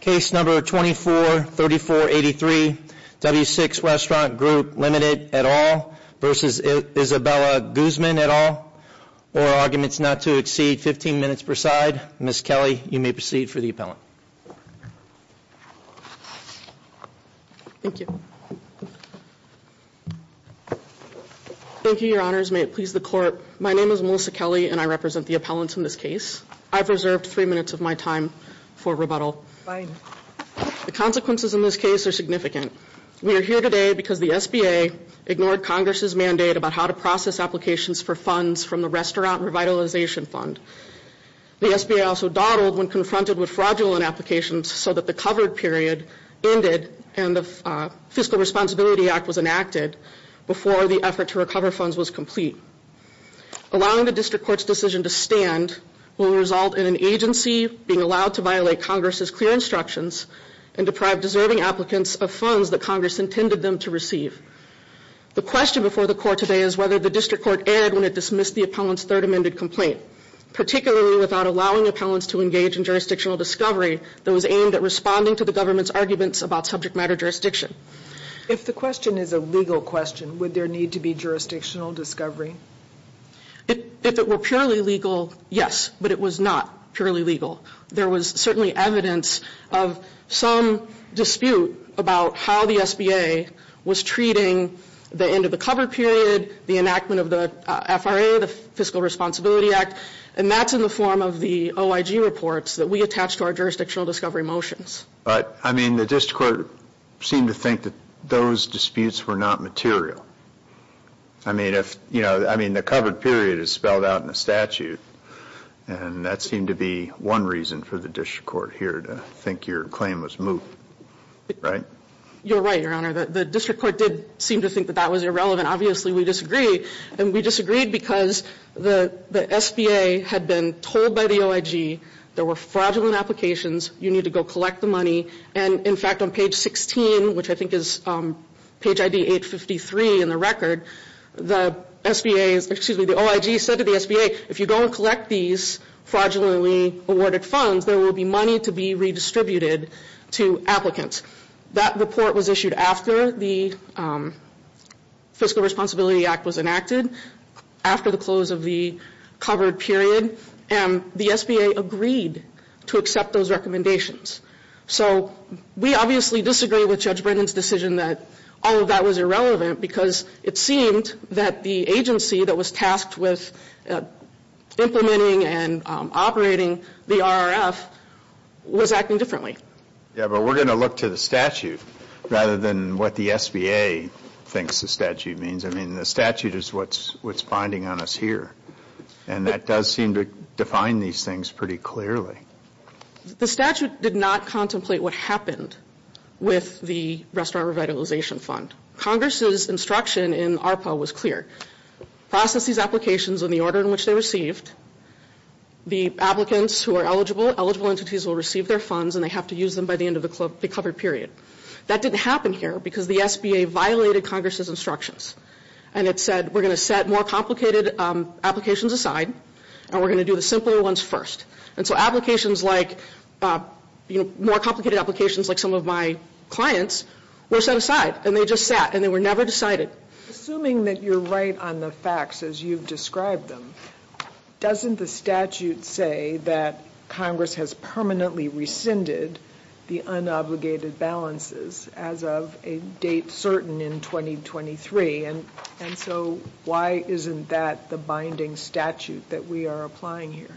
Case number 243483, W6 Restaurant Group Ltd at all v. Isabella Guzman at all, or arguments not to exceed 15 minutes per side. Ms. Kelly, you may proceed for the appellant. Thank you. Thank you, Your Honors. May it please the Court. My name is Melissa Kelly and I represent the appellants in this case. I've reserved three minutes of my time for rebuttal. Fine. The consequences in this case are significant. We are here today because the SBA ignored Congress' mandate about how to process applications for funds from the Restaurant Revitalization Fund. The SBA also dawdled when confronted with fraudulent applications so that the covered period ended and the Fiscal Responsibility Act was enacted before the effort to recover funds was complete. Allowing the District Court's decision to stand will result in an agency being allowed to violate Congress' clear instructions and deprive deserving applicants of funds that Congress intended them to receive. The question before the Court today is whether the District Court erred when it dismissed the appellant's third amended complaint, particularly without allowing appellants to engage in jurisdictional discovery that was aimed at responding to the government's arguments about subject matter jurisdiction. If the question is a legal question, would there need to be jurisdictional discovery? If it were purely legal, yes, but it was not purely legal. There was certainly evidence of some dispute about how the SBA was treating the end of the covered period, the enactment of the FRA, the Fiscal Responsibility Act, and that's in the form of the OIG reports that we attached to our jurisdictional discovery motions. But, I mean, the District Court seemed to think that those disputes were not material. I mean, if, you know, I mean, the covered period is spelled out in the statute, and that seemed to be one reason for the District Court here to think your claim was moot, right? You're right, Your Honor. The District Court did seem to think that that was irrelevant. Obviously, we disagree, and we disagreed because the SBA had been told by the OIG there were fraudulent applications. You need to go collect the money, and, in fact, on page 16, which I think is page ID 853 in the record, the SBA, excuse me, the OIG said to the SBA, if you don't collect these fraudulently awarded funds, there will be money to be redistributed to applicants. That report was issued after the Fiscal Responsibility Act was enacted, after the close of the covered period, and the SBA agreed to accept those recommendations. So, we obviously disagree with Judge Brennan's decision that all of that was irrelevant, because it seemed that the agency that was tasked with implementing and operating the RRF was acting differently. Yeah, but we're going to look to the statute rather than what the SBA thinks the statute means. I mean, the statute is what's binding on us here. And that does seem to define these things pretty clearly. The statute did not contemplate what happened with the Restaurant Revitalization Fund. Congress's instruction in ARPA was clear. Process these applications in the order in which they're received. The applicants who are eligible, eligible entities will receive their funds, and they have to use them by the end of the covered period. That didn't happen here, because the SBA violated Congress's instructions. And it said, we're going to set more complicated applications aside, and we're going to do the simpler ones first. And so applications like, you know, more complicated applications like some of my clients were set aside, and they just sat, and they were never decided. Assuming that you're right on the facts as you've described them, doesn't the statute say that Congress has permanently rescinded the unobligated balances as of a date certain in 2023? And so why isn't that the binding statute that we are applying here?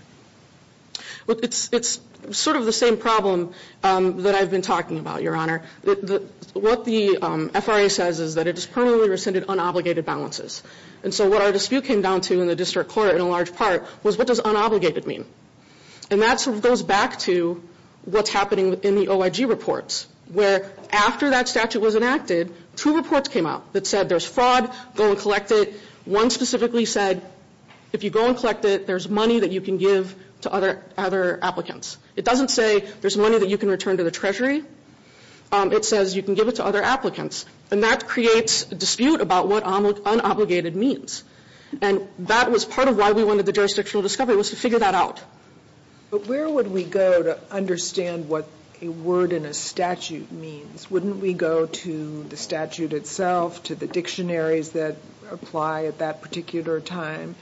It's sort of the same problem that I've been talking about, Your Honor. What the FRA says is that it has permanently rescinded unobligated balances. And so what our dispute came down to in the district court in a large part was, what does unobligated mean? And that sort of goes back to what's happening in the OIG reports, where after that statute was enacted, two reports came out that said there's fraud, go and collect it. One specifically said, if you go and collect it, there's money that you can give to other applicants. It doesn't say there's money that you can return to the Treasury. It says you can give it to other applicants. And that creates a dispute about what unobligated means. And that was part of why we wanted the jurisdictional discovery, was to figure that out. But where would we go to understand what a word in a statute means? Wouldn't we go to the statute itself, to the dictionaries that apply at that particular time?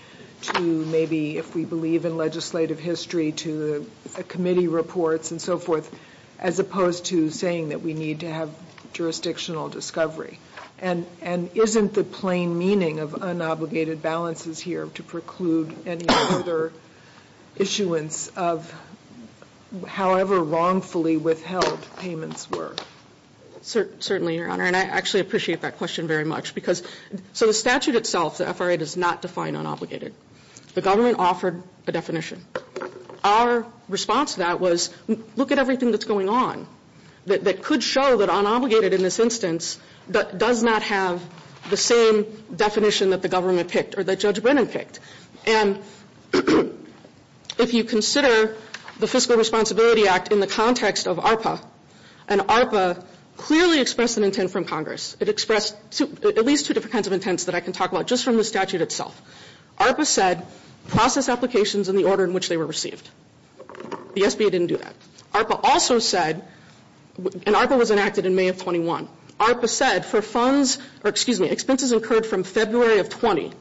To maybe, if we believe in legislative history, to the committee reports and so forth, as opposed to saying that we need to have jurisdictional discovery. And isn't the plain meaning of unobligated balances here to preclude any other issuance of however wrongfully withheld payments were? Certainly, Your Honor. And I actually appreciate that question very much. Because, so the statute itself, the FRA does not define unobligated. The government offered a definition. Our response to that was, look at everything that's going on. That could show that unobligated in this instance does not have the same definition that the government picked, or that Judge Brennan picked. And if you consider the Fiscal Responsibility Act in the context of ARPA, and ARPA clearly expressed an intent from Congress. It expressed at least two different kinds of intents that I can talk about, just from the statute itself. ARPA said, process applications in the order in which they were received. The SBA didn't do that. ARPA also said, and ARPA was enacted in May of 21. ARPA said, for funds, or excuse me, expenses incurred from February of 20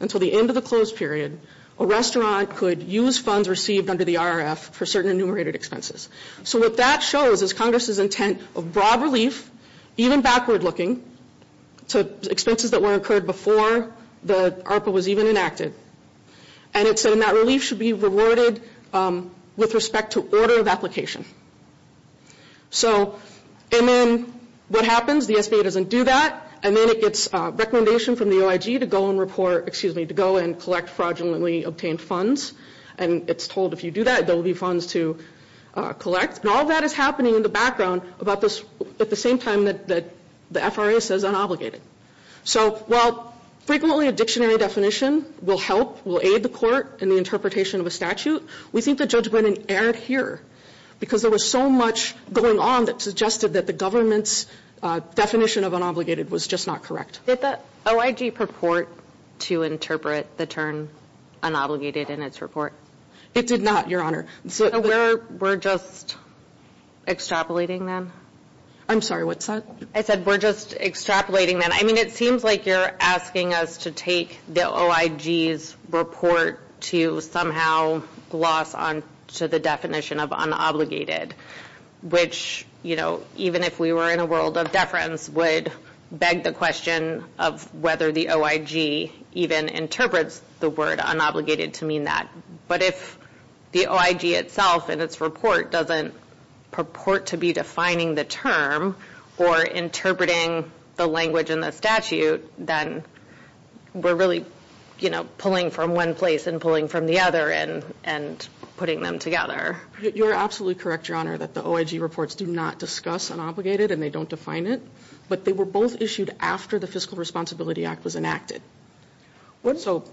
until the end of the closed period, a restaurant could use funds received under the IRF for certain enumerated expenses. So what that shows is Congress's intent of broad relief, even backward looking, to expenses that were incurred before the ARPA was even enacted. And it said, and that relief should be rewarded with respect to order of application. So, and then what happens? The SBA doesn't do that. And then it gets recommendation from the OIG to go and report, excuse me, to go and collect fraudulently obtained funds. And it's told if you do that, there will be funds to collect. And all of that is happening in the background about this, at the same time that the FRA says unobligated. So while frequently a dictionary definition will help, will aid the court in the interpretation of a statute, we think the judgment erred here because there was so much going on that suggested that the government's definition of unobligated was just not correct. Did the OIG purport to interpret the term unobligated in its report? It did not, Your Honor. So we're just extrapolating then? I'm sorry, what's that? I said we're just extrapolating then. I mean, it seems like you're asking us to take the OIG's report to somehow gloss on to the definition of unobligated. Which, you know, even if we were in a world of deference, would beg the question of whether the OIG even interprets the word unobligated to mean that. But if the OIG itself and its report doesn't purport to be defining the term or interpreting the language in the statute, then we're really, you know, pulling from one place and pulling from the other and putting them together. You're absolutely correct, Your Honor, that the OIG reports do not discuss unobligated and they don't define it. But they were both issued after the Fiscal Responsibility Act was enacted. So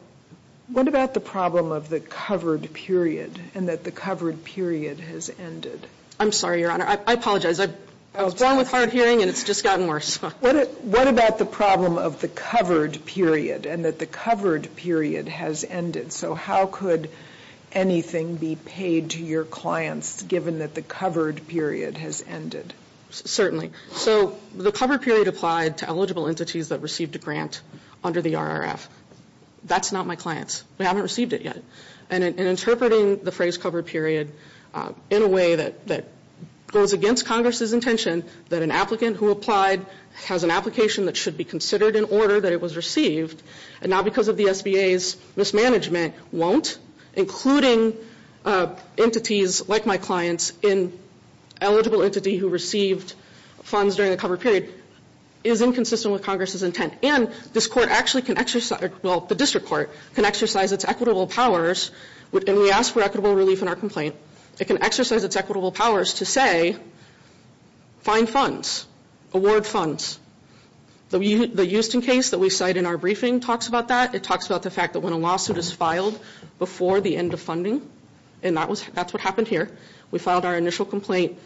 what about the problem of the covered period and that the covered period has ended? I'm sorry, Your Honor, I apologize. I was born with hard hearing and it's just gotten worse. What about the problem of the covered period and that the covered period has ended? So how could anything be paid to your clients given that the covered period has ended? Certainly. So the covered period applied to eligible entities that received a grant under the RRF. That's not my clients. We haven't received it yet. And interpreting the phrase covered period in a way that goes against Congress's intention, that an applicant who applied has an application that should be considered in order that it was received, and not because of the SBA's mismanagement, won't, including entities like my clients in eligible entity who received funds during the covered period, is inconsistent with Congress's intent. And this court actually can exercise, well, the district court can exercise its equitable powers, and we ask for equitable relief in our complaint, it can exercise its equitable powers to say, find funds, award funds. The Houston case that we cite in our briefing talks about that. It talks about the fact that when a lawsuit is filed before the end of funding, and that's what happened here, we filed our initial complaint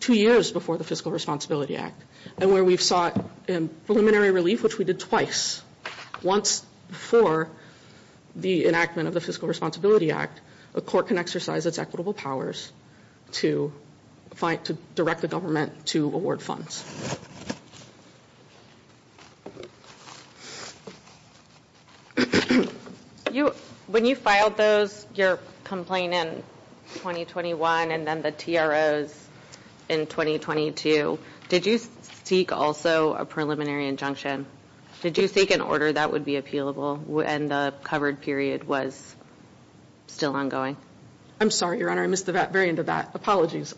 two years before the Fiscal Responsibility Act. And where we've sought preliminary relief, which we did twice, once before the enactment of the Fiscal Responsibility Act, a court can exercise its equitable powers to direct the government to award funds. When you filed those, your complaint in 2021, and then the TROs in 2022, did you seek also a preliminary injunction? Did you seek an order that would be appealable, and the covered period was still ongoing? I'm sorry, Your Honor, I missed the very end of that. Apologies.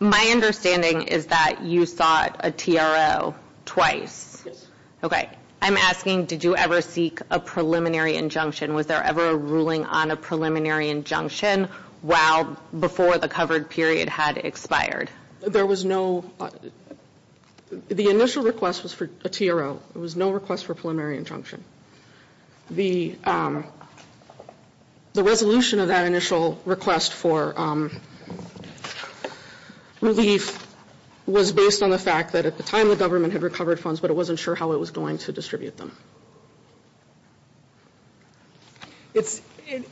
My understanding is that you seek an order that would be appealable, and you sought a TRO twice. Yes. Okay. I'm asking, did you ever seek a preliminary injunction? Was there ever a ruling on a preliminary injunction while, before the covered period had expired? There was no, the initial request was for a TRO. There was no request for a preliminary injunction. The, the resolution of that initial request for relief was based on the fact that at the time the government had recovered funds, but it wasn't sure how it was going to distribute them. It's,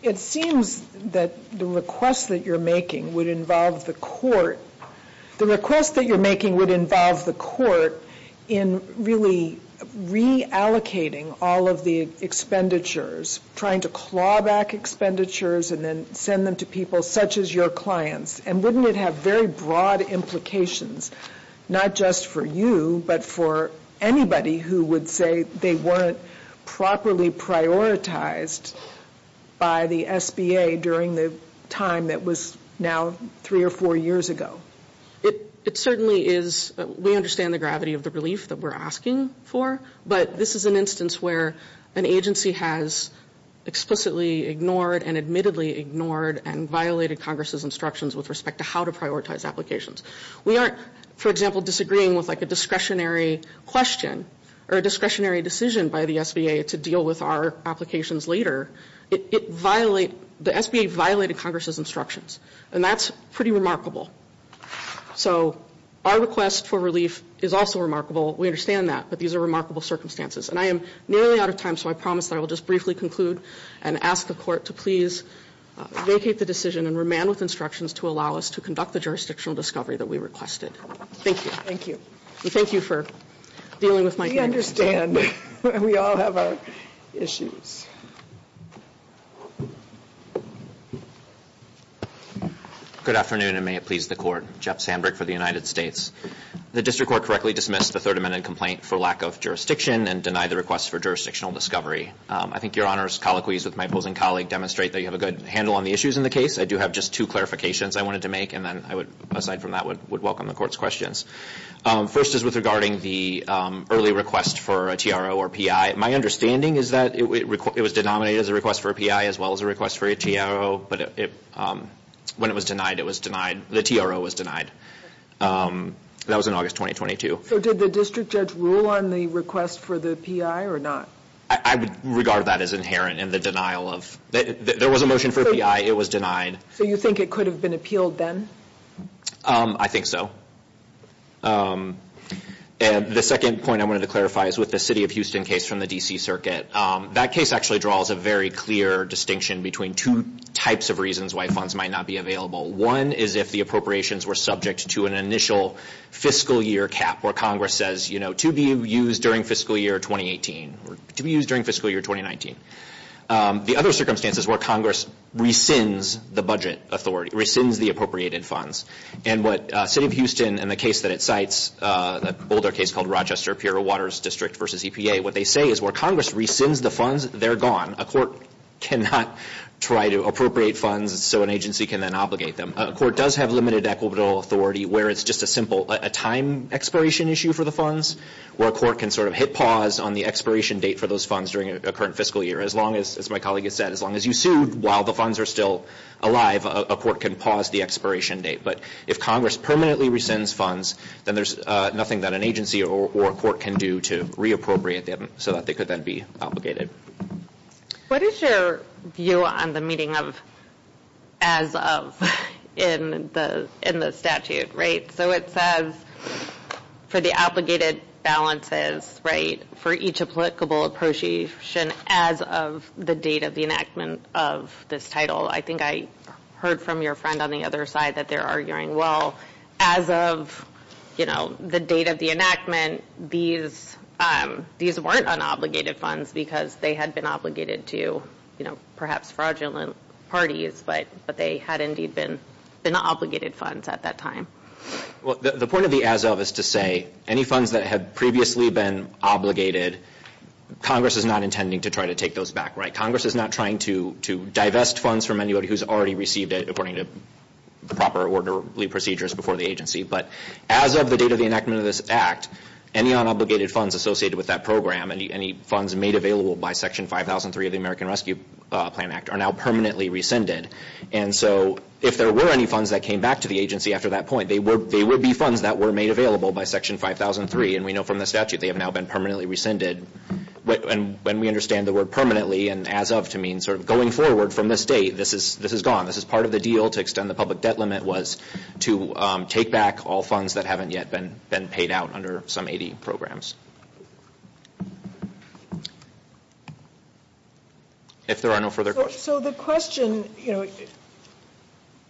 it seems that the request that you're making would involve the court, the request that you're making would involve the court in really reallocating all of the expenditures, trying to claw back expenditures and then send them to people such as your clients. And wouldn't it have very broad implications, not just for you, but for anybody who would say they weren't properly prioritized by the SBA during the time that was now three or four years ago? It, it certainly is, we understand the gravity of the relief that we're asking for, but this is an instance where an agency has explicitly ignored and admittedly ignored and violated Congress's instructions with respect to how to prioritize applications. We aren't, for example, disagreeing with like a discretionary question, or a discretionary decision by the SBA to deal with our applications later. It, it violate, the SBA violated Congress's instructions, and that's pretty remarkable. So, our request for relief is also remarkable, we understand that, but these are remarkable circumstances. And I am nearly out of time, so I promise that I will just briefly conclude and ask the court to please vacate the decision and remand with instructions to allow us to conduct the jurisdictional discovery that we requested. Thank you. Thank you. And thank you for dealing with my questions. We understand. We all have our issues. Good afternoon, and may it please the court. Jeff Sandberg for the United States. The district court correctly dismissed the Third Amendment complaint for lack of jurisdiction and denied the request for jurisdictional discovery. I think your Honor's colloquies with my opposing colleague demonstrate that you have a good handle on the issues in the case. I do have just two clarifications I wanted to make, and then I would, aside from that, would welcome the court's questions. First is with regarding the early request for a TRO or PI. My understanding is that it was denominated as a request for a PI as well as a request for a TRO. But when it was denied, it was denied, the TRO was denied. That was in August 2022. So did the district judge rule on the request for the PI or not? I would regard that as inherent in the denial of, there was a motion for a PI. It was denied. So you think it could have been appealed then? I think so. The second point I wanted to clarify is with the city of Houston case from the D.C. circuit. That case actually draws a very clear distinction between two types of reasons why funds might not be available. One is if the appropriations were subject to an initial fiscal year cap where Congress says, you know, to be used during fiscal year 2018, to be used during fiscal year 2019. The other circumstance is where Congress rescinds the budget authority, rescinds the appropriated funds. And what city of Houston and the case that it cites, the Boulder case called Rochester, Piero Waters District versus EPA, what they say is where Congress rescinds the funds, they're gone. A court cannot try to appropriate funds so an agency can then obligate them. A court does have limited equitable authority where it's just a simple, a time expiration issue for the funds. Where a court can sort of hit pause on the expiration date for those funds during a current fiscal year. As long as, as my colleague has said, as long as you sued while the funds are still alive, a court can pause the expiration date. But if Congress permanently rescinds funds, then there's nothing that an agency or court can do to reappropriate them so that they could then be obligated. What is your view on the meeting of as of in the statute, right? So it says for the obligated balances, right? For each applicable appreciation as of the date of the enactment of this title. I think I heard from your friend on the other side that they're arguing, well, as of the date of the enactment, these weren't unobligated funds because they had been obligated to perhaps fraudulent parties. But they had indeed been unobligated funds at that time. Well, the point of the as of is to say any funds that had previously been obligated, Congress is not intending to try to take those back, right? Congress is not trying to divest funds from anybody who's already received it according to the proper orderly procedures before the agency. But as of the date of the enactment of this act, any unobligated funds associated with that program, any funds made available by Section 5003 of the American Rescue Plan Act are now permanently rescinded. And so if there were any funds that came back to the agency after that point, they would be funds that were made available by Section 5003. And we know from the statute they have now been permanently rescinded. When we understand the word permanently and as of to mean sort of going forward from this date, this is gone. This is part of the deal to extend the public debt limit was to take back all funds that haven't yet been paid out under some 80 programs. If there are no further questions. So the question, you know,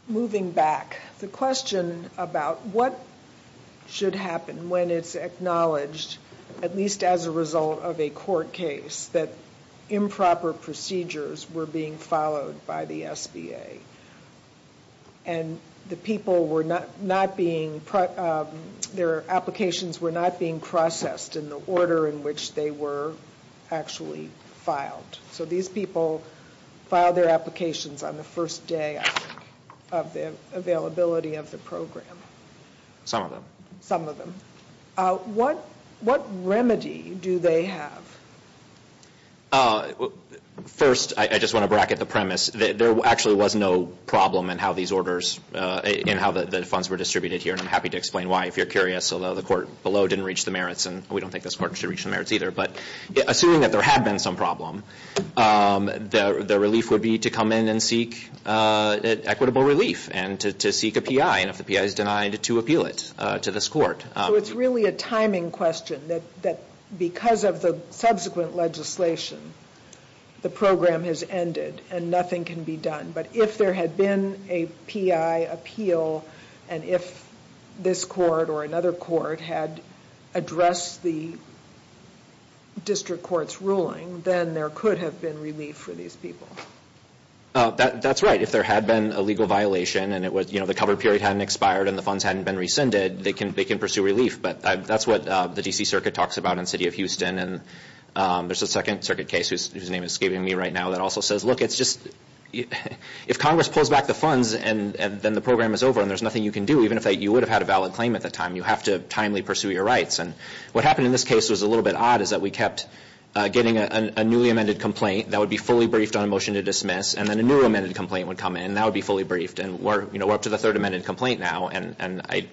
moving back, the question about what should happen when it's acknowledged, at least as a result of a court case, that improper procedures were being followed by the SBA. And the people were not being, their applications were not being processed in the order in which they were actually filed. So these people filed their applications on the first day of the availability of the program. Some of them. Some of them. What, what remedy do they have? First, I just want to bracket the premise that there actually was no problem in how these orders and how the funds were distributed here. And I'm happy to explain why, if you're curious. Although the court below didn't reach the merits and we don't think this court should reach the merits either. But assuming that there had been some problem, the relief would be to come in and seek equitable relief and to seek a P.I. And if the P.I. is denied to appeal it to this court. So it's really a timing question that, that because of the subsequent legislation, the program has ended and nothing can be done. But if there had been a P.I. appeal and if this court or another court had addressed the district court's ruling, then there could have been relief for these people. That's right. If there had been a legal violation and it was, you know, the cover period hadn't expired and the funds hadn't been rescinded, they can pursue relief. But that's what the D.C. Circuit talks about in the city of Houston. And there's a Second Circuit case whose name is escaping me right now that also says, look, it's just if Congress pulls back the funds and then the program is over and there's nothing you can do, even if you would have had a valid claim at the time, you have to timely pursue your rights. And what happened in this case was a little bit odd is that we kept getting a newly amended complaint that would be fully briefed on a motion to dismiss. And then a new amended complaint would come in and that would be fully briefed. And we're up to the third amended complaint now. And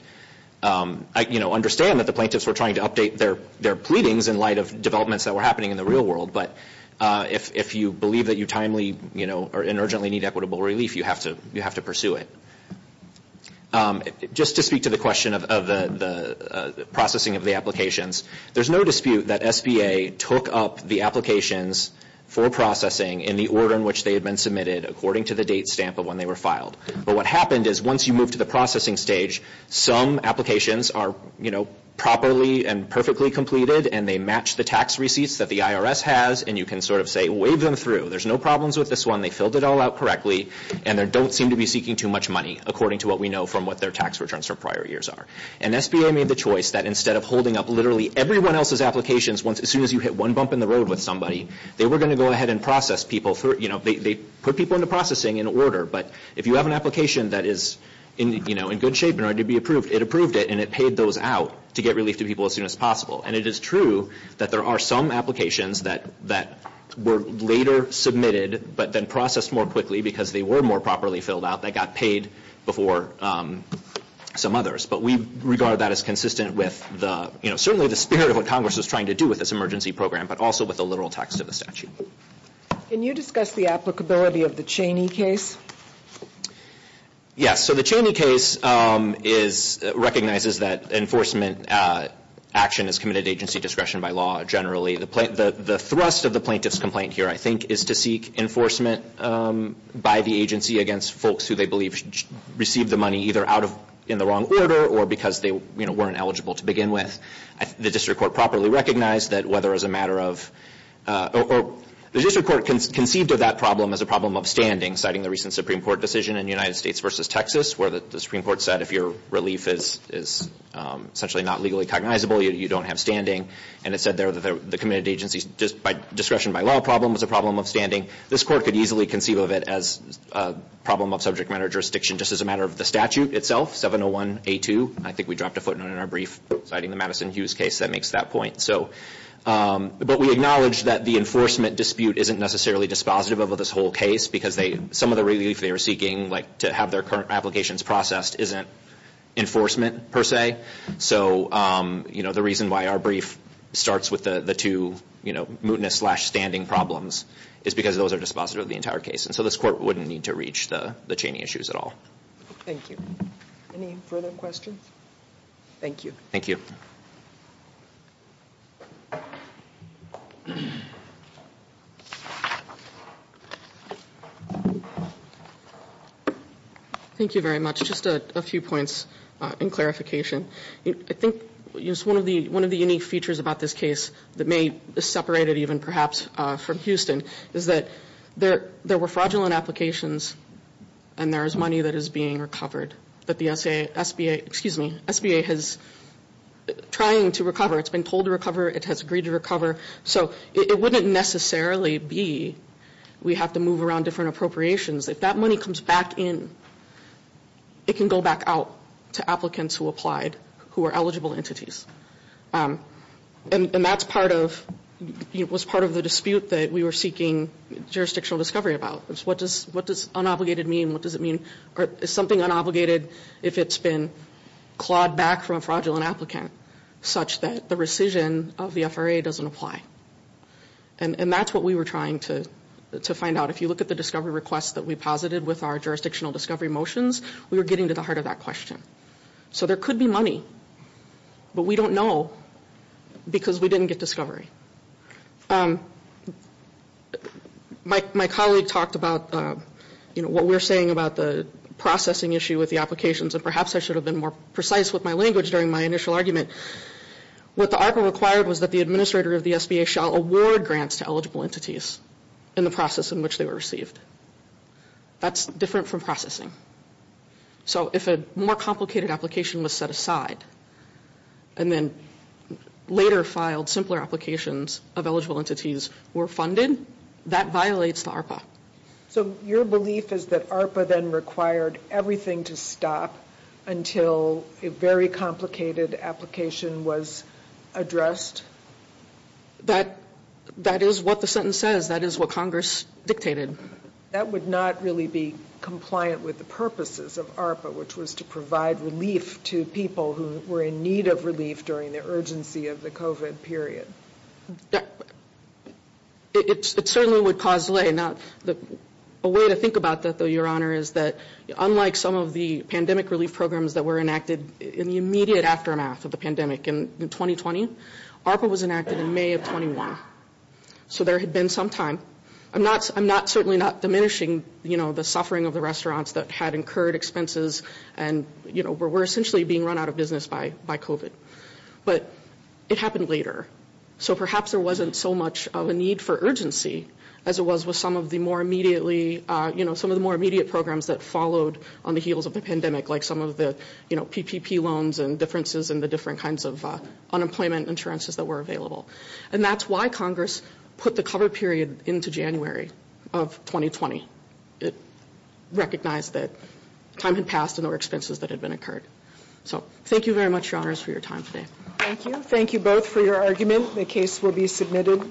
I, you know, understand that the plaintiffs were trying to update their pleadings in light of developments that were happening in the real world. But if you believe that you timely, you know, or in urgently need equitable relief, you have to pursue it. Just to speak to the question of the processing of the applications, there's no dispute that SBA took up the applications for processing in the order in which they had been submitted according to the date stamp of when they were filed. But what happened is once you move to the processing stage, some applications are, you know, properly and perfectly completed and they match the tax receipts that the IRS has and you can sort of say, wave them through. There's no problems with this one. They filled it all out correctly and they don't seem to be seeking too much money according to what we know from what their tax returns for prior years are. And SBA made the choice that instead of holding up literally everyone else's applications as soon as you hit one bump in the road with somebody, they were going to go ahead and process people through, you know, they put people into processing in order. But if you have an application that is in, you know, in good shape in order to be approved, it approved it and it paid those out to get relief to people as soon as possible. And it is true that there are some applications that were later submitted, but then processed more quickly because they were more properly filled out that got paid before some others. But we regard that as consistent with the, you know, certainly the spirit of what Congress is trying to do with this emergency program, but also with the literal text of the statute. Can you discuss the applicability of the Cheney case? Yes, so the Cheney case is, recognizes that enforcement action is committed to agency discretion by law generally. The thrust of the plaintiff's complaint here, I think, is to seek enforcement by the agency against folks who they believe received the money either out of, in the wrong order or because they, you know, weren't eligible to begin with. The district court properly recognized that whether as a matter of, the district court conceived of that problem as a problem of standing, citing the recent Supreme Court decision in the United States versus Texas, where the Supreme Court said if your relief is essentially not legally cognizable, you don't have standing. And it said there that the committed agency's discretion by law problem was a problem of standing. This court could easily conceive of it as a problem of subject matter jurisdiction just as a matter of the statute itself, 701A2. I think we dropped a footnote in our brief citing the Madison Hughes case that makes that point. So, but we acknowledge that the enforcement dispute isn't necessarily dispositive of this whole case because they, some of the relief they were seeking, like to have their current applications processed, isn't enforcement per se. So, you know, the reason why our brief starts with the two, you know, mootness slash standing problems is because those are dispositive of the entire case. And so this court wouldn't need to reach the Cheney issues at all. Thank you. Any further questions? Thank you. Thank you. Thank you very much. Just a few points in clarification. I think just one of the unique features about this case that may separate it even perhaps from Houston is that there were fraudulent applications and there is money that is being recovered. But the SBA, excuse me, SBA is trying to recover. It's been told to recover. It has agreed to recover. So it wouldn't necessarily be we have to move around different appropriations. If that money comes back in, it can go back out to applicants who applied who are eligible entities. And that's part of, was part of the dispute that we were seeking jurisdictional discovery about. What does unobligated mean? What does it mean? Is something unobligated if it's been clawed back from a fraudulent applicant such that the rescission of the FRA doesn't apply? And that's what we were trying to find out. If you look at the discovery requests that we posited with our jurisdictional discovery motions, we were getting to the heart of that question. So there could be money. But we don't know because we didn't get discovery. My colleague talked about, you know, what we're saying about the processing issue with the applications. And perhaps I should have been more precise with my language during my initial argument. What the ARPA required was that the administrator of the SBA shall award grants to eligible entities in the process in which they were received. That's different from processing. So if a more complicated application was set aside and then later filed simpler applications of eligible entities were funded, that violates the ARPA. So your belief is that ARPA then required everything to stop until a very complicated application was addressed? That, that is what the sentence says. That is what Congress dictated. That would not really be compliant with the purposes of ARPA, which was to provide relief to people who were in need of relief during the urgency of the COVID period. It certainly would cause delay. Now, a way to think about that, though, Your Honor, is that unlike some of the pandemic relief programs that were enacted in the immediate aftermath of the pandemic in 2020, ARPA was enacted in May of 21. So there had been some time. I'm not, I'm not, certainly not diminishing, you know, the suffering of the restaurants that had incurred expenses and, you know, were essentially being run out of business by COVID. But it happened later. So perhaps there wasn't so much of a need for urgency as it was with some of the more immediately, you know, some of the more immediate programs that followed on the heels of the pandemic, like some of the, you know, PPP loans and differences in the different kinds of unemployment insurances that were available. And that's why Congress put the cover period into January of 2020. It recognized that time had passed and there were expenses that had been incurred. So thank you very much, Your Honors, for your time today. Thank you. Thank you both for your argument. The case will be submitted.